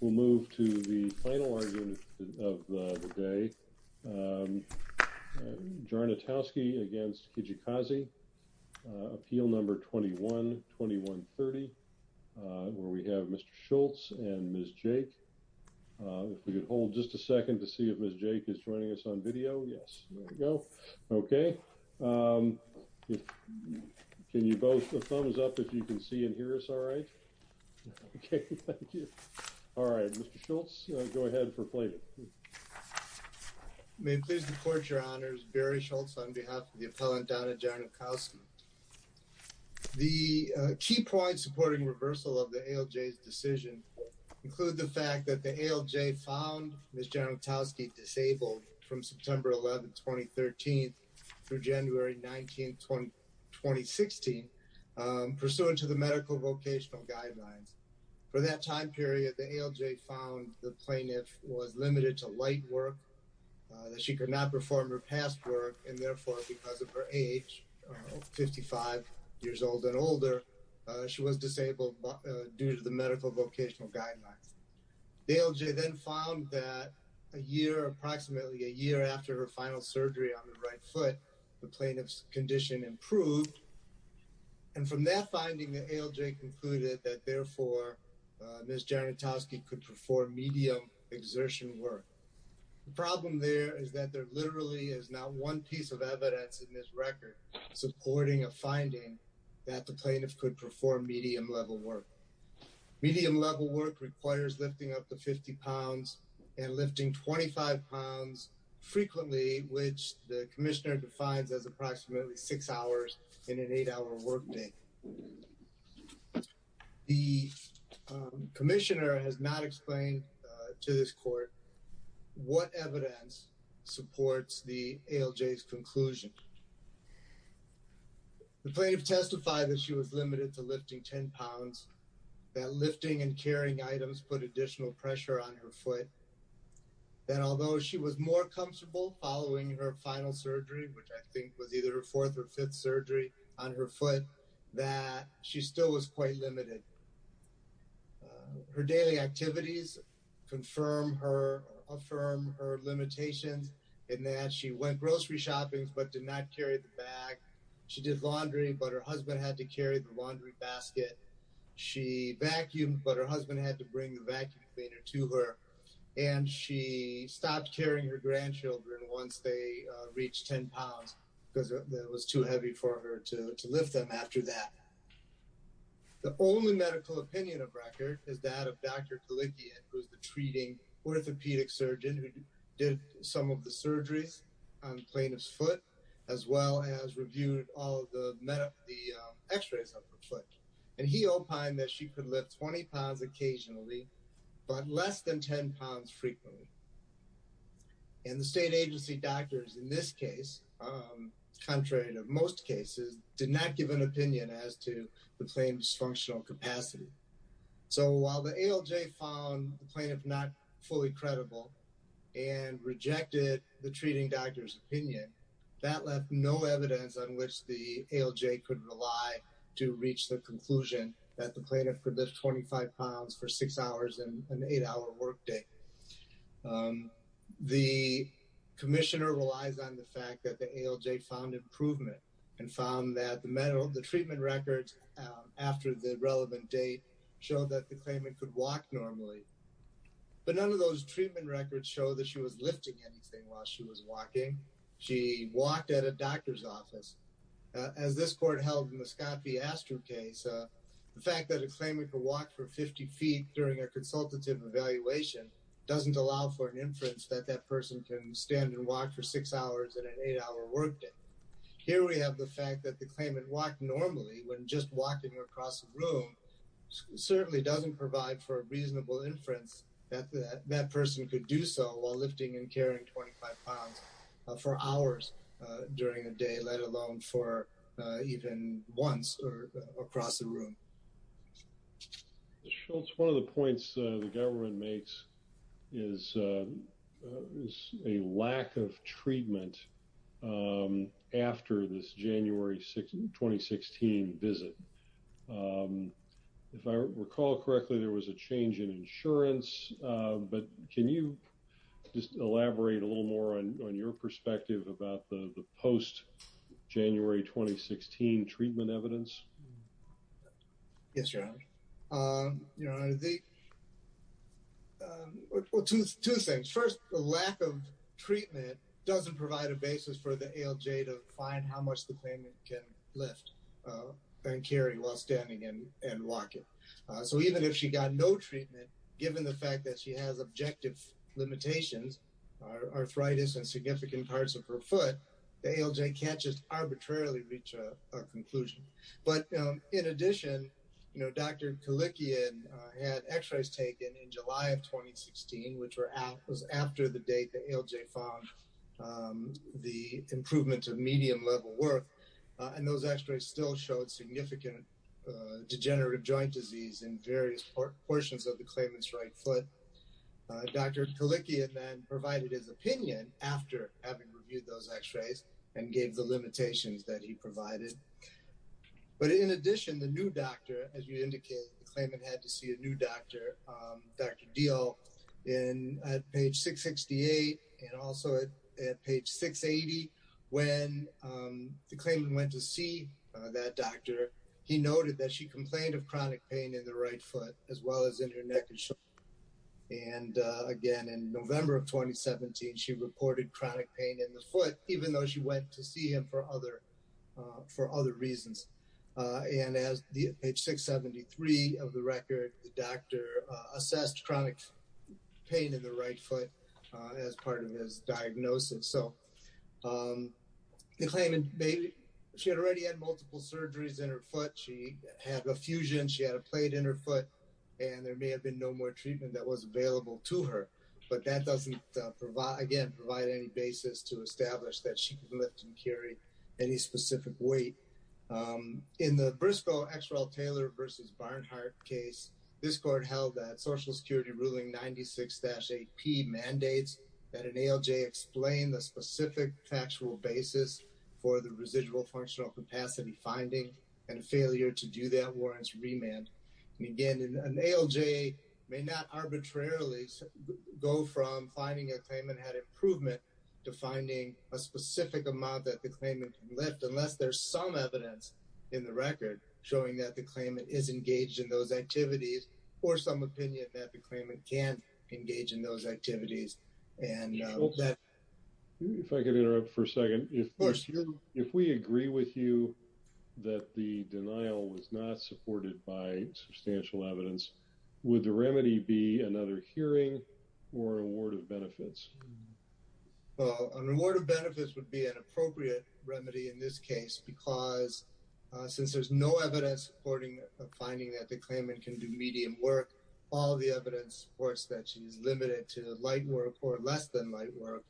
We'll move to the final argument of the day. Jarnutowski against Kijakazi. Appeal number 21-2130, where we have Mr. Schultz and Ms. Jake. If we could hold just a second to see if Ms. Jake is joining us on video. Yes, there we go. Okay. Can you both thumbs up if you can see and hear us all right? Okay, thank you. All right, Mr. Schultz, go ahead for pleading. May it please the court, your honors. Barry Schultz on behalf of the appellant, Donna Jarnutowski. The key points supporting reversal of the ALJ's decision include the fact that the ALJ found Ms. Jarnutowski disabled from September 11, 2013 through January 19, 2016, pursuant to the medical vocational guidelines. For that time period, the ALJ found the plaintiff was limited to light work, that she could not perform her past work, and therefore, because of her age, 55 years old and older, she was disabled due to the medical vocational guidelines. The ALJ then found that a year, approximately a year after her final surgery on the right foot, the plaintiff's condition improved. And from that finding, the ALJ concluded that therefore, Ms. Jarnutowski could perform medium exertion work. The problem there is that there literally is not one piece of evidence in this record supporting a finding that the plaintiff could perform medium level work. Medium level work requires lifting up to 50 pounds and lifting 25 pounds frequently, which the commissioner defines as approximately six hours in an eight-hour workday. The commissioner has not explained to this court what evidence supports the ALJ's conclusion. The plaintiff testified that she was limited to lifting 10 pounds, that lifting and carrying items put additional pressure on her foot, that although she was more comfortable following her final surgery, which I think was either a fourth or fifth surgery on her foot, that she still was quite limited. Her daily activities confirm or affirm her limitations in that she went grocery shopping but did not carry the bag. She did laundry, but her husband had to carry the laundry basket. She vacuumed, but her husband had to bring the vacuum cleaner to her, and she stopped carrying her grandchildren once they reached 10 pounds because it was too heavy for her to lift them after that. The only medical opinion of record is that of Dr. Kalikian, who's the treating orthopedic surgeon who did some of the surgeries on the plaintiff's foot, as well as reviewed all of the x-rays of her foot. And he opined that she could lift 20 pounds occasionally, but less than 10 pounds frequently. And the state agency doctors in this case, contrary to most cases, did not give an opinion as to the plaintiff's functional capacity. So while the ALJ found the plaintiff not fully credible and rejected the treating doctor's no evidence on which the ALJ could rely to reach the conclusion that the plaintiff could lift 25 pounds for six hours and an eight-hour workday. The commissioner relies on the fact that the ALJ found improvement and found that the treatment records after the relevant date showed that the claimant could walk normally. But none of those treatment records show that she was lifting anything while she was walking. She walked at a doctor's office. As this court held in the Scott v. Astor case, the fact that a claimant could walk for 50 feet during a consultative evaluation doesn't allow for an inference that that person can stand and walk for six hours and an eight-hour workday. Here we have the fact that the claimant walked normally when just walking across the room certainly doesn't provide for a reasonable inference that that person could do so while lifting and carrying 25 pounds for hours during the day let alone for even once or across the room. Schultz, one of the points the government makes is a lack of treatment after this January 2016 visit. If I recall correctly there was a change in insurance but can you just elaborate a little more on your perspective about the post-January 2016 treatment evidence? Yes, Your Honor. Two things. First, the lack of treatment doesn't provide a basis for the ALJ to find how much the claimant can lift and carry while standing and walking. So even if she got no treatment given the fact that she has objective limitations, arthritis and significant parts of her foot, the ALJ can't just arbitrarily reach a conclusion. But in addition Dr. Kalikian had x-rays taken in July of 2016 which was after the date the ALJ found the improvement of medium level work and those x-rays still showed significant degenerative joint disease in various portions of the claimant's right foot. Dr. Kalikian then provided his opinion after having reviewed those x-rays and gave the limitations that he provided. But in addition the new doctor as you indicated the claimant had to see a new doctor, Dr. Deal at page 668 and also at page 680 when the claimant went to see that doctor he noted that she complained of chronic pain in the right foot as well as in her neck and shoulder. And again in November of 2017 she reported chronic pain in the foot even though she went to see him for other reasons. And as page 673 of the record the doctor assessed chronic pain in the right foot as part of his diagnosis. So the claimant she had already had multiple surgeries in her foot, she had a fusion, she had a plate in her foot and there may have been no more treatment that was available to her. But that doesn't again provide any basis to establish that she can lift and carry any specific weight. In the Briscoe-Exrell-Taylor versus Barnhart case this court held that social security ruling 96-8p mandates that an ALJ explain the specific factual basis for the residual functional capacity finding and failure to do that warrants remand. And again an ALJ may not arbitrarily go from finding a claimant had improvement to finding a specific amount that the claimant can lift unless there's some evidence in the record showing that the claimant is engaged in those activities or some opinion that the If I could interrupt for a second. Of course. If we agree with you that the denial was not supported by substantial evidence would the remedy be another hearing or award of benefits? Well an award of benefits would be an appropriate remedy in this case because since there's no evidence supporting a finding that the claimant can do medium work all the evidence supports that she's limited to light work or less than light work.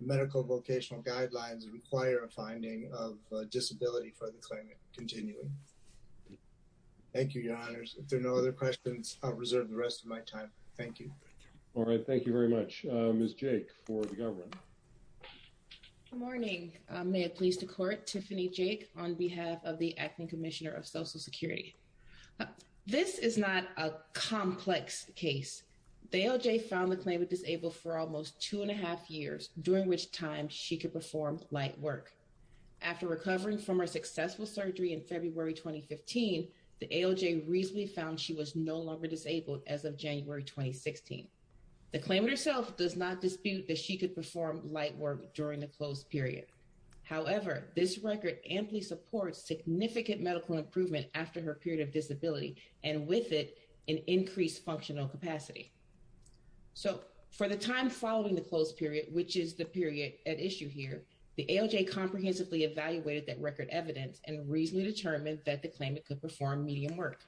Medical vocational guidelines require a finding of disability for the claimant continuing. Thank you your honors. If there are no other questions I'll reserve the rest of my time. Thank you. All right. Thank you very much. Ms. Jake for the government. Good morning. May it please the court. Tiffany Jake on behalf of the acting commissioner of social security. This is not a complex case. The ALJ found the claimant disabled for almost two and a half years during which time she could perform light work after recovering from her successful surgery in February 2015. The ALJ recently found she was no longer disabled as of January 2016. The claimant herself does not dispute that she could perform light work during the closed period. However this record amply supports significant medical improvement after her period of disability and with it an increased functional capacity. So for the time following the closed period which is the period at issue here the ALJ comprehensively evaluated that record evidence and reasonably determined that the claimant could perform medium work.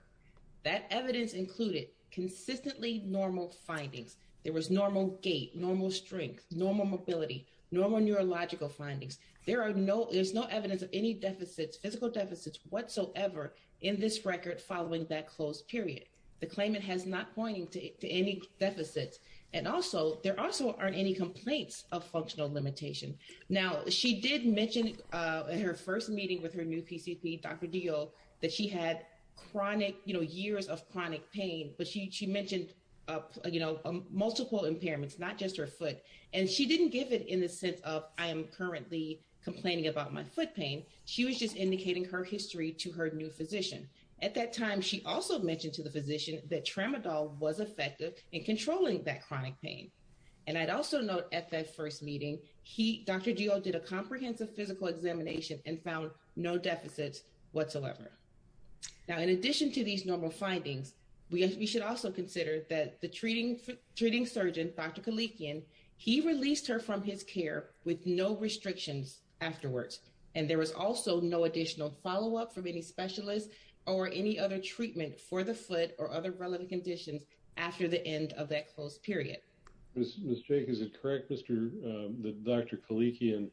That evidence included consistently normal findings. There was normal gait, normal strength, normal mobility, normal neurological findings. There are no there's no evidence of any deficits physical deficits whatsoever in this record following that closed period. The claimant has not pointing to any deficits and also there also aren't any complaints of functional limitation. Now she did mention in her first meeting with her new PCP Dr. Dio that she had chronic you know years of chronic pain but she mentioned you know multiple impairments not just her foot and she didn't give it in the sense of I am currently complaining about my foot pain. She was just indicating her history to her new physician. At that time she also mentioned to the physician that tramadol was effective in controlling that chronic pain and I'd also note at that first meeting he Dr. Dio did a comprehensive physical examination and found no deficits whatsoever. Now in addition to these normal findings we should also consider that the treating treating surgeon Dr. Kalikian he released her from his care with no restrictions afterwards and there was also no additional follow-up from any specialist or any other treatment for the foot or other relevant conditions after the end of that closed period. Miss Jake is it correct Mr. that Dr. Kalikian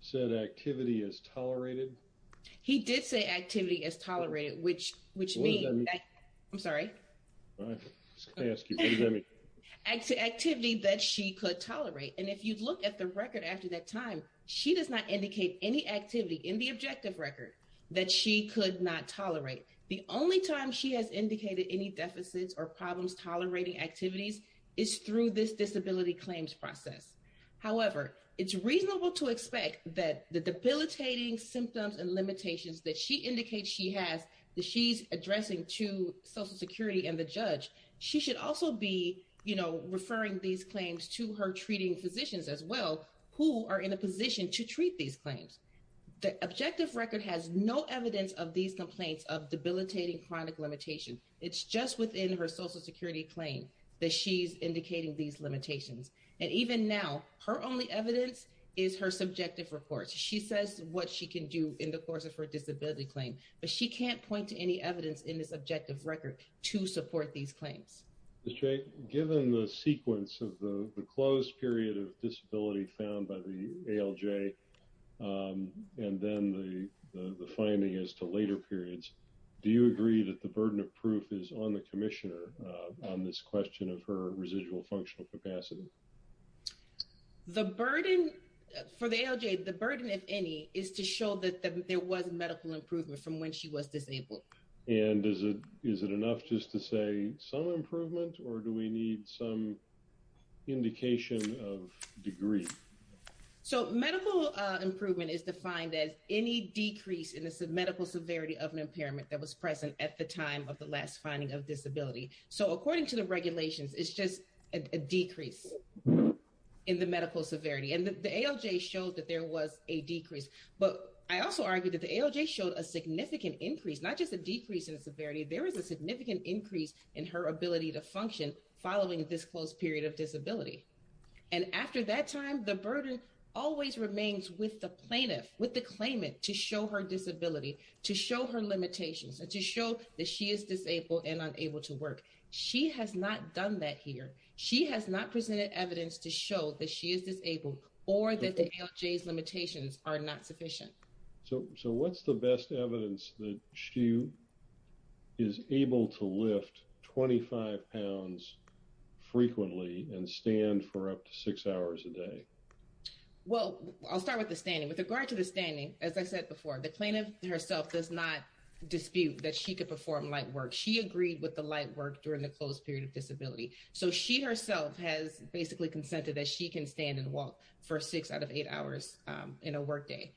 said activity is tolerated? He did say activity is tolerated which which I'm sorry. I'm just going to ask you what does that mean? Activity that she could tolerate and if you look at the record after that time she does not indicate any activity in the objective record that she could not tolerate. The only time she has indicated any deficits or problems tolerating activities is through this disability claims process. However it's reasonable to expect that the debilitating symptoms and limitations that she indicates she has that she's addressing to social security and the judge she should also be you know referring these claims to her treating physicians as well who are in a to treat these claims. The objective record has no evidence of these complaints of debilitating chronic limitation. It's just within her social security claim that she's indicating these limitations and even now her only evidence is her subjective reports. She says what she can do in the course of her disability claim but she can't point to any evidence in this objective record to support these claims. Miss Jake given the sequence of the closed period of disability found by the ALJ and then the the finding as to later periods do you agree that the burden of proof is on the commissioner on this question of her residual functional capacity? The burden for the ALJ the burden if any is to show that there was medical improvement from when she was disabled. And is it is it enough just to say some improvement or do we need some indication of degree? So medical improvement is defined as any decrease in the medical severity of an impairment that was present at the time of the last finding of disability. So according to the regulations it's just a decrease in the medical severity and the ALJ showed that there was a decrease but I also argue that the ALJ showed a significant increase not just a decrease in severity there is a significant increase in her ability to function following this period of disability. And after that time the burden always remains with the plaintiff with the claimant to show her disability to show her limitations and to show that she is disabled and unable to work. She has not done that here. She has not presented evidence to show that she is disabled or that the ALJ's limitations are not sufficient. So what's the best evidence that she is able to lift 25 pounds frequently and stand for up to six hours a day? Well I'll start with the standing. With regard to the standing as I said before the plaintiff herself does not dispute that she could perform light work. She agreed with the light work during the closed period of disability. So she herself has basically consented that she can stand and walk for six out of eight hours in a work day.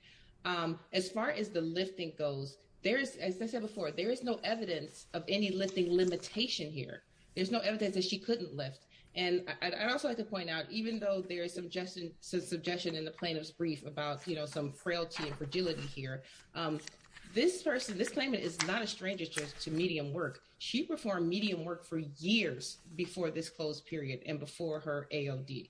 As far as the lifting goes there is as I said before there is no evidence of any lifting limitation here. There's no evidence that she couldn't lift and I'd also like to point out even though there is some suggestion in the plaintiff's brief about you know some frailty and fragility here this person this claimant is not a stranger just to medium work. She performed medium work for years before this closed period and before her AOD.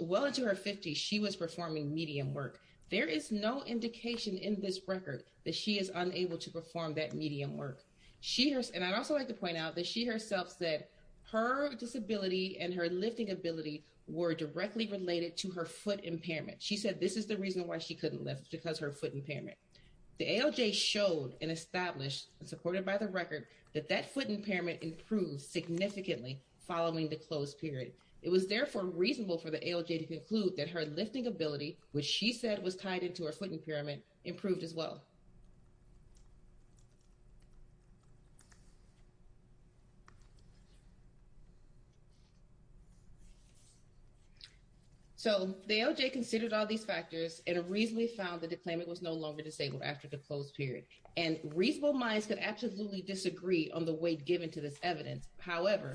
Well into her 50s she was performing medium work. There is no indication in this record that she is unable to perform that medium work. She and I'd also like to point out that she herself said her disability and her lifting ability were directly related to her foot impairment. She said this is the reason why she couldn't lift because her foot impairment. The ALJ showed and established and supported by the record that that foot impairment improved significantly following the closed period. It was therefore reasonable for the ALJ to conclude that her lifting ability which she said was tied into her foot impairment improved as well. So the ALJ considered all these factors and reasonably found that the claimant was no longer disabled after the closed period and reasonable minds could absolutely disagree on the weight given to this evidence. However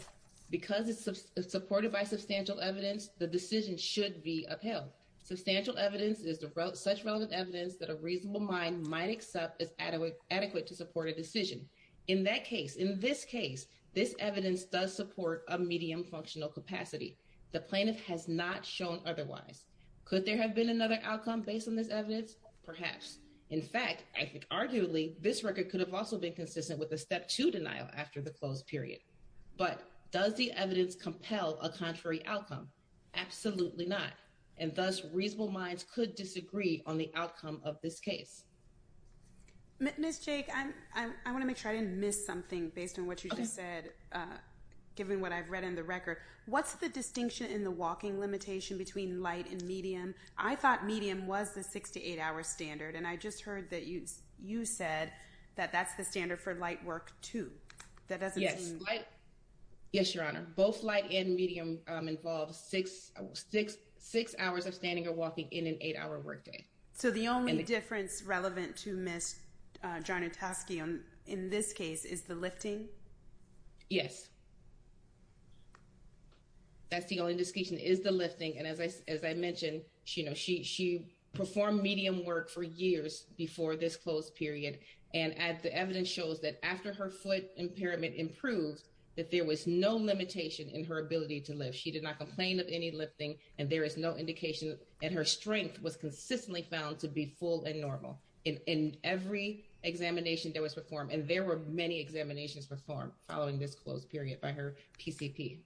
because it's supported by substantial evidence the decision should be upheld. Substantial evidence is such relevant evidence that a reasonable mind might accept is adequate to support a decision. In that case in this case this evidence does support a medium functional capacity. The plaintiff has not shown otherwise. Could there have been another outcome based on this evidence? Perhaps. In fact I think arguably this record could have also been consistent with a step two denial after the closed period. But does the evidence compel a contrary outcome? Absolutely not and thus reasonable minds could disagree on the outcome of this case. Ms. Jake I want to make sure I didn't miss something based on what you just said given what I've read in the record. What's the distinction in the walking limitation between light and medium? I thought medium was the six to eight hour standard and I that that's the standard for light work too. Yes your honor. Both light and medium involve six hours of standing or walking in an eight hour work day. So the only difference relevant to Ms. Jarnotowsky in this case is the lifting? Yes that's the only distinction is the and the evidence shows that after her foot impairment improved that there was no limitation in her ability to lift. She did not complain of any lifting and there is no indication and her strength was consistently found to be full and normal in every examination that was performed and there were many examinations performed following this closed period by her PCP.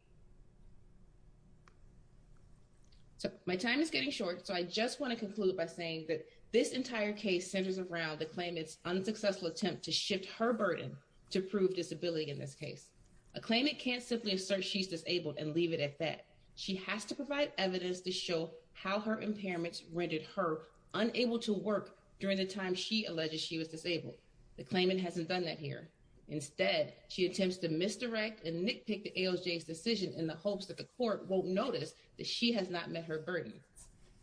So my time is getting short so I just want to conclude by saying that this entire case centers around the claimant's unsuccessful attempt to shift her burden to prove disability in this case. A claimant can't simply assert she's disabled and leave it at that. She has to provide evidence to show how her impairments rendered her unable to work during the time she alleges she was disabled. The claimant hasn't done that here. Instead she attempts to misdirect and nitpick the ALJ's decision in the hopes that the court won't notice that she has not met her burden.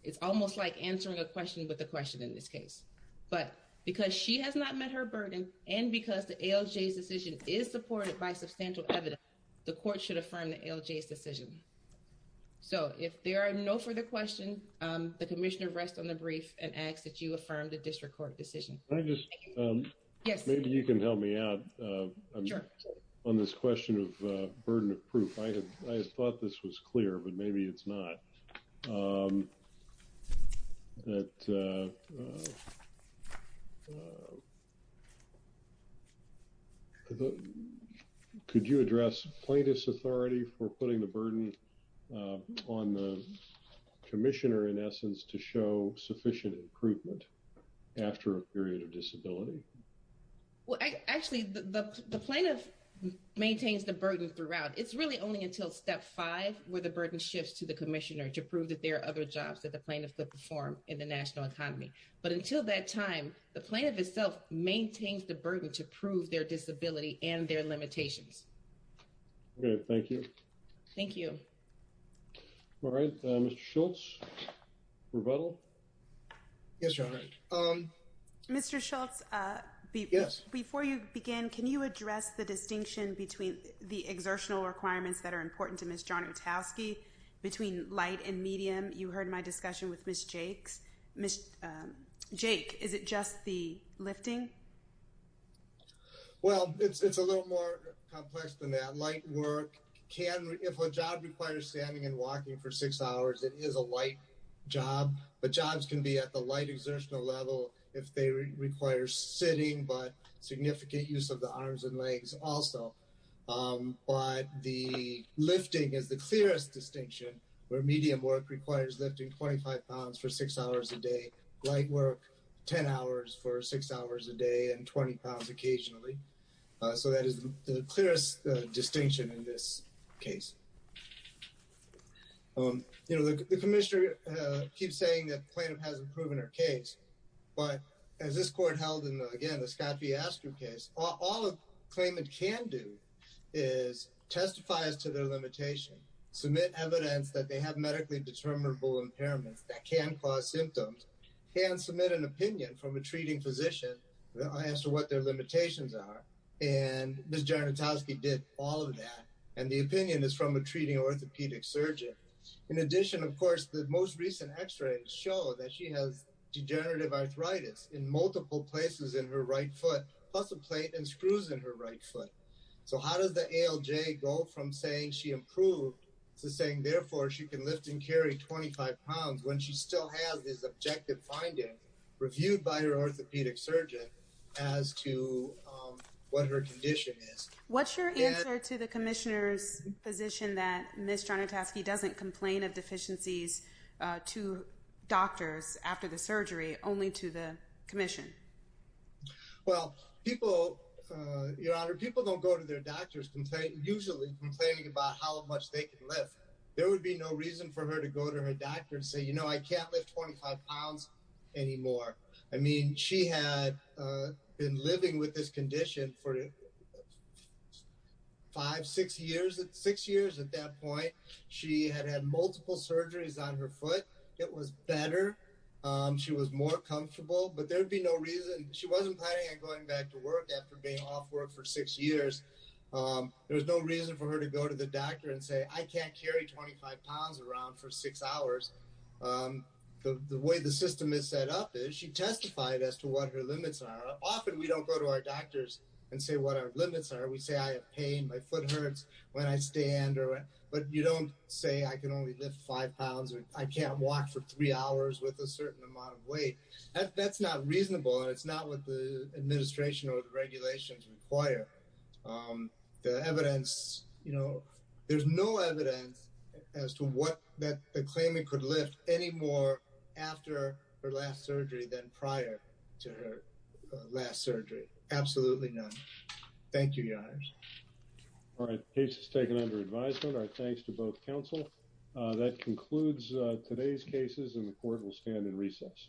It's almost like a question with a question in this case. But because she has not met her burden and because the ALJ's decision is supported by substantial evidence, the court should affirm the ALJ's decision. So if there are no further questions, the Commissioner rests on the brief and asks that you affirm the district court decision. Can I just, maybe you can help me out on this question of burden of proof. I thought this was clear but maybe it's not. Could you address plaintiff's authority for putting the burden on the Commissioner in essence to show sufficient improvement after a period of disability? Well actually the plaintiff maintains the burden throughout. It's really only until step five where the burden shifts to the Commissioner to prove that there are other jobs that the plaintiff could perform in the national economy. But until that time, the plaintiff itself maintains the burden to prove their disability and their limitations. Okay, thank you. Thank you. All right, Mr. Schultz, rebuttal? Yes, Your Honor. Mr. Schultz, before you begin, can you address the distinction between the exertional requirements that are important to Ms. John-Utowski between light and medium? You heard my discussion with Ms. Jakes. Jake, is it just the lifting? Well, it's a little more complex than that. Light work can, if a job requires standing and walking for six hours, it is a light job. But jobs can be at the light exertional level if they require sitting but significant use of the arms and legs also. But the lifting is the clearest distinction where medium work requires lifting 25 pounds for six hours a day. Light work, 10 hours for six hours a day and 20 pounds occasionally. So that is the clearest distinction in this case. You know, the Commissioner keeps saying that the plaintiff hasn't proven her case. But as this court held in, again, the Scott v. Astrum case, all a claimant can do is testify as to their limitation, submit evidence that they have medically determinable impairments that can cause symptoms, can submit an opinion from a treating physician as to what their limitations are. And Ms. John-Utowski did all of that. And the opinion is from a treating orthopedic surgeon. In addition, of course, the most recent x-rays show that she has degenerative arthritis in multiple places in her right foot, plus a plate and screws in her right foot. So how does the ALJ go from saying she improved to saying, therefore, she can lift and carry 25 pounds when she still has this objective finding reviewed by her orthopedic surgeon as to what her condition is? What's your answer to the Commissioner's position that Ms. John-Utowski doesn't complain of deficiencies to doctors after the surgery, only to the Commission? Well, people, Your Honor, people don't go to their doctors usually complaining about how much they can lift. There would be no reason for her to go to her doctor and say, you know, I can't lift 25 pounds anymore. I mean, she had been living with this condition for five, six years at that point. She had had multiple surgeries on her foot. It was better. She was more comfortable, but there'd be no reason. She wasn't planning on going back to work after being off work for six years. There was no reason for her to go to the doctor and say, I can't carry 25 pounds around for six hours. The way the system is set up is she testified as to what her limits are. Often we don't go to our doctors and say what our limits are. We say I have pain, my foot hurts when I stand, but you don't say I can only lift five pounds or I can't walk for three hours with a certain amount of weight. That's not reasonable and it's not what the evidence as to what that the claimant could lift anymore after her last surgery than prior to her last surgery. Absolutely none. Thank you, your honors. All right. Case is taken under advisement. Our thanks to both counsel. That concludes today's cases and the court will stand in recess.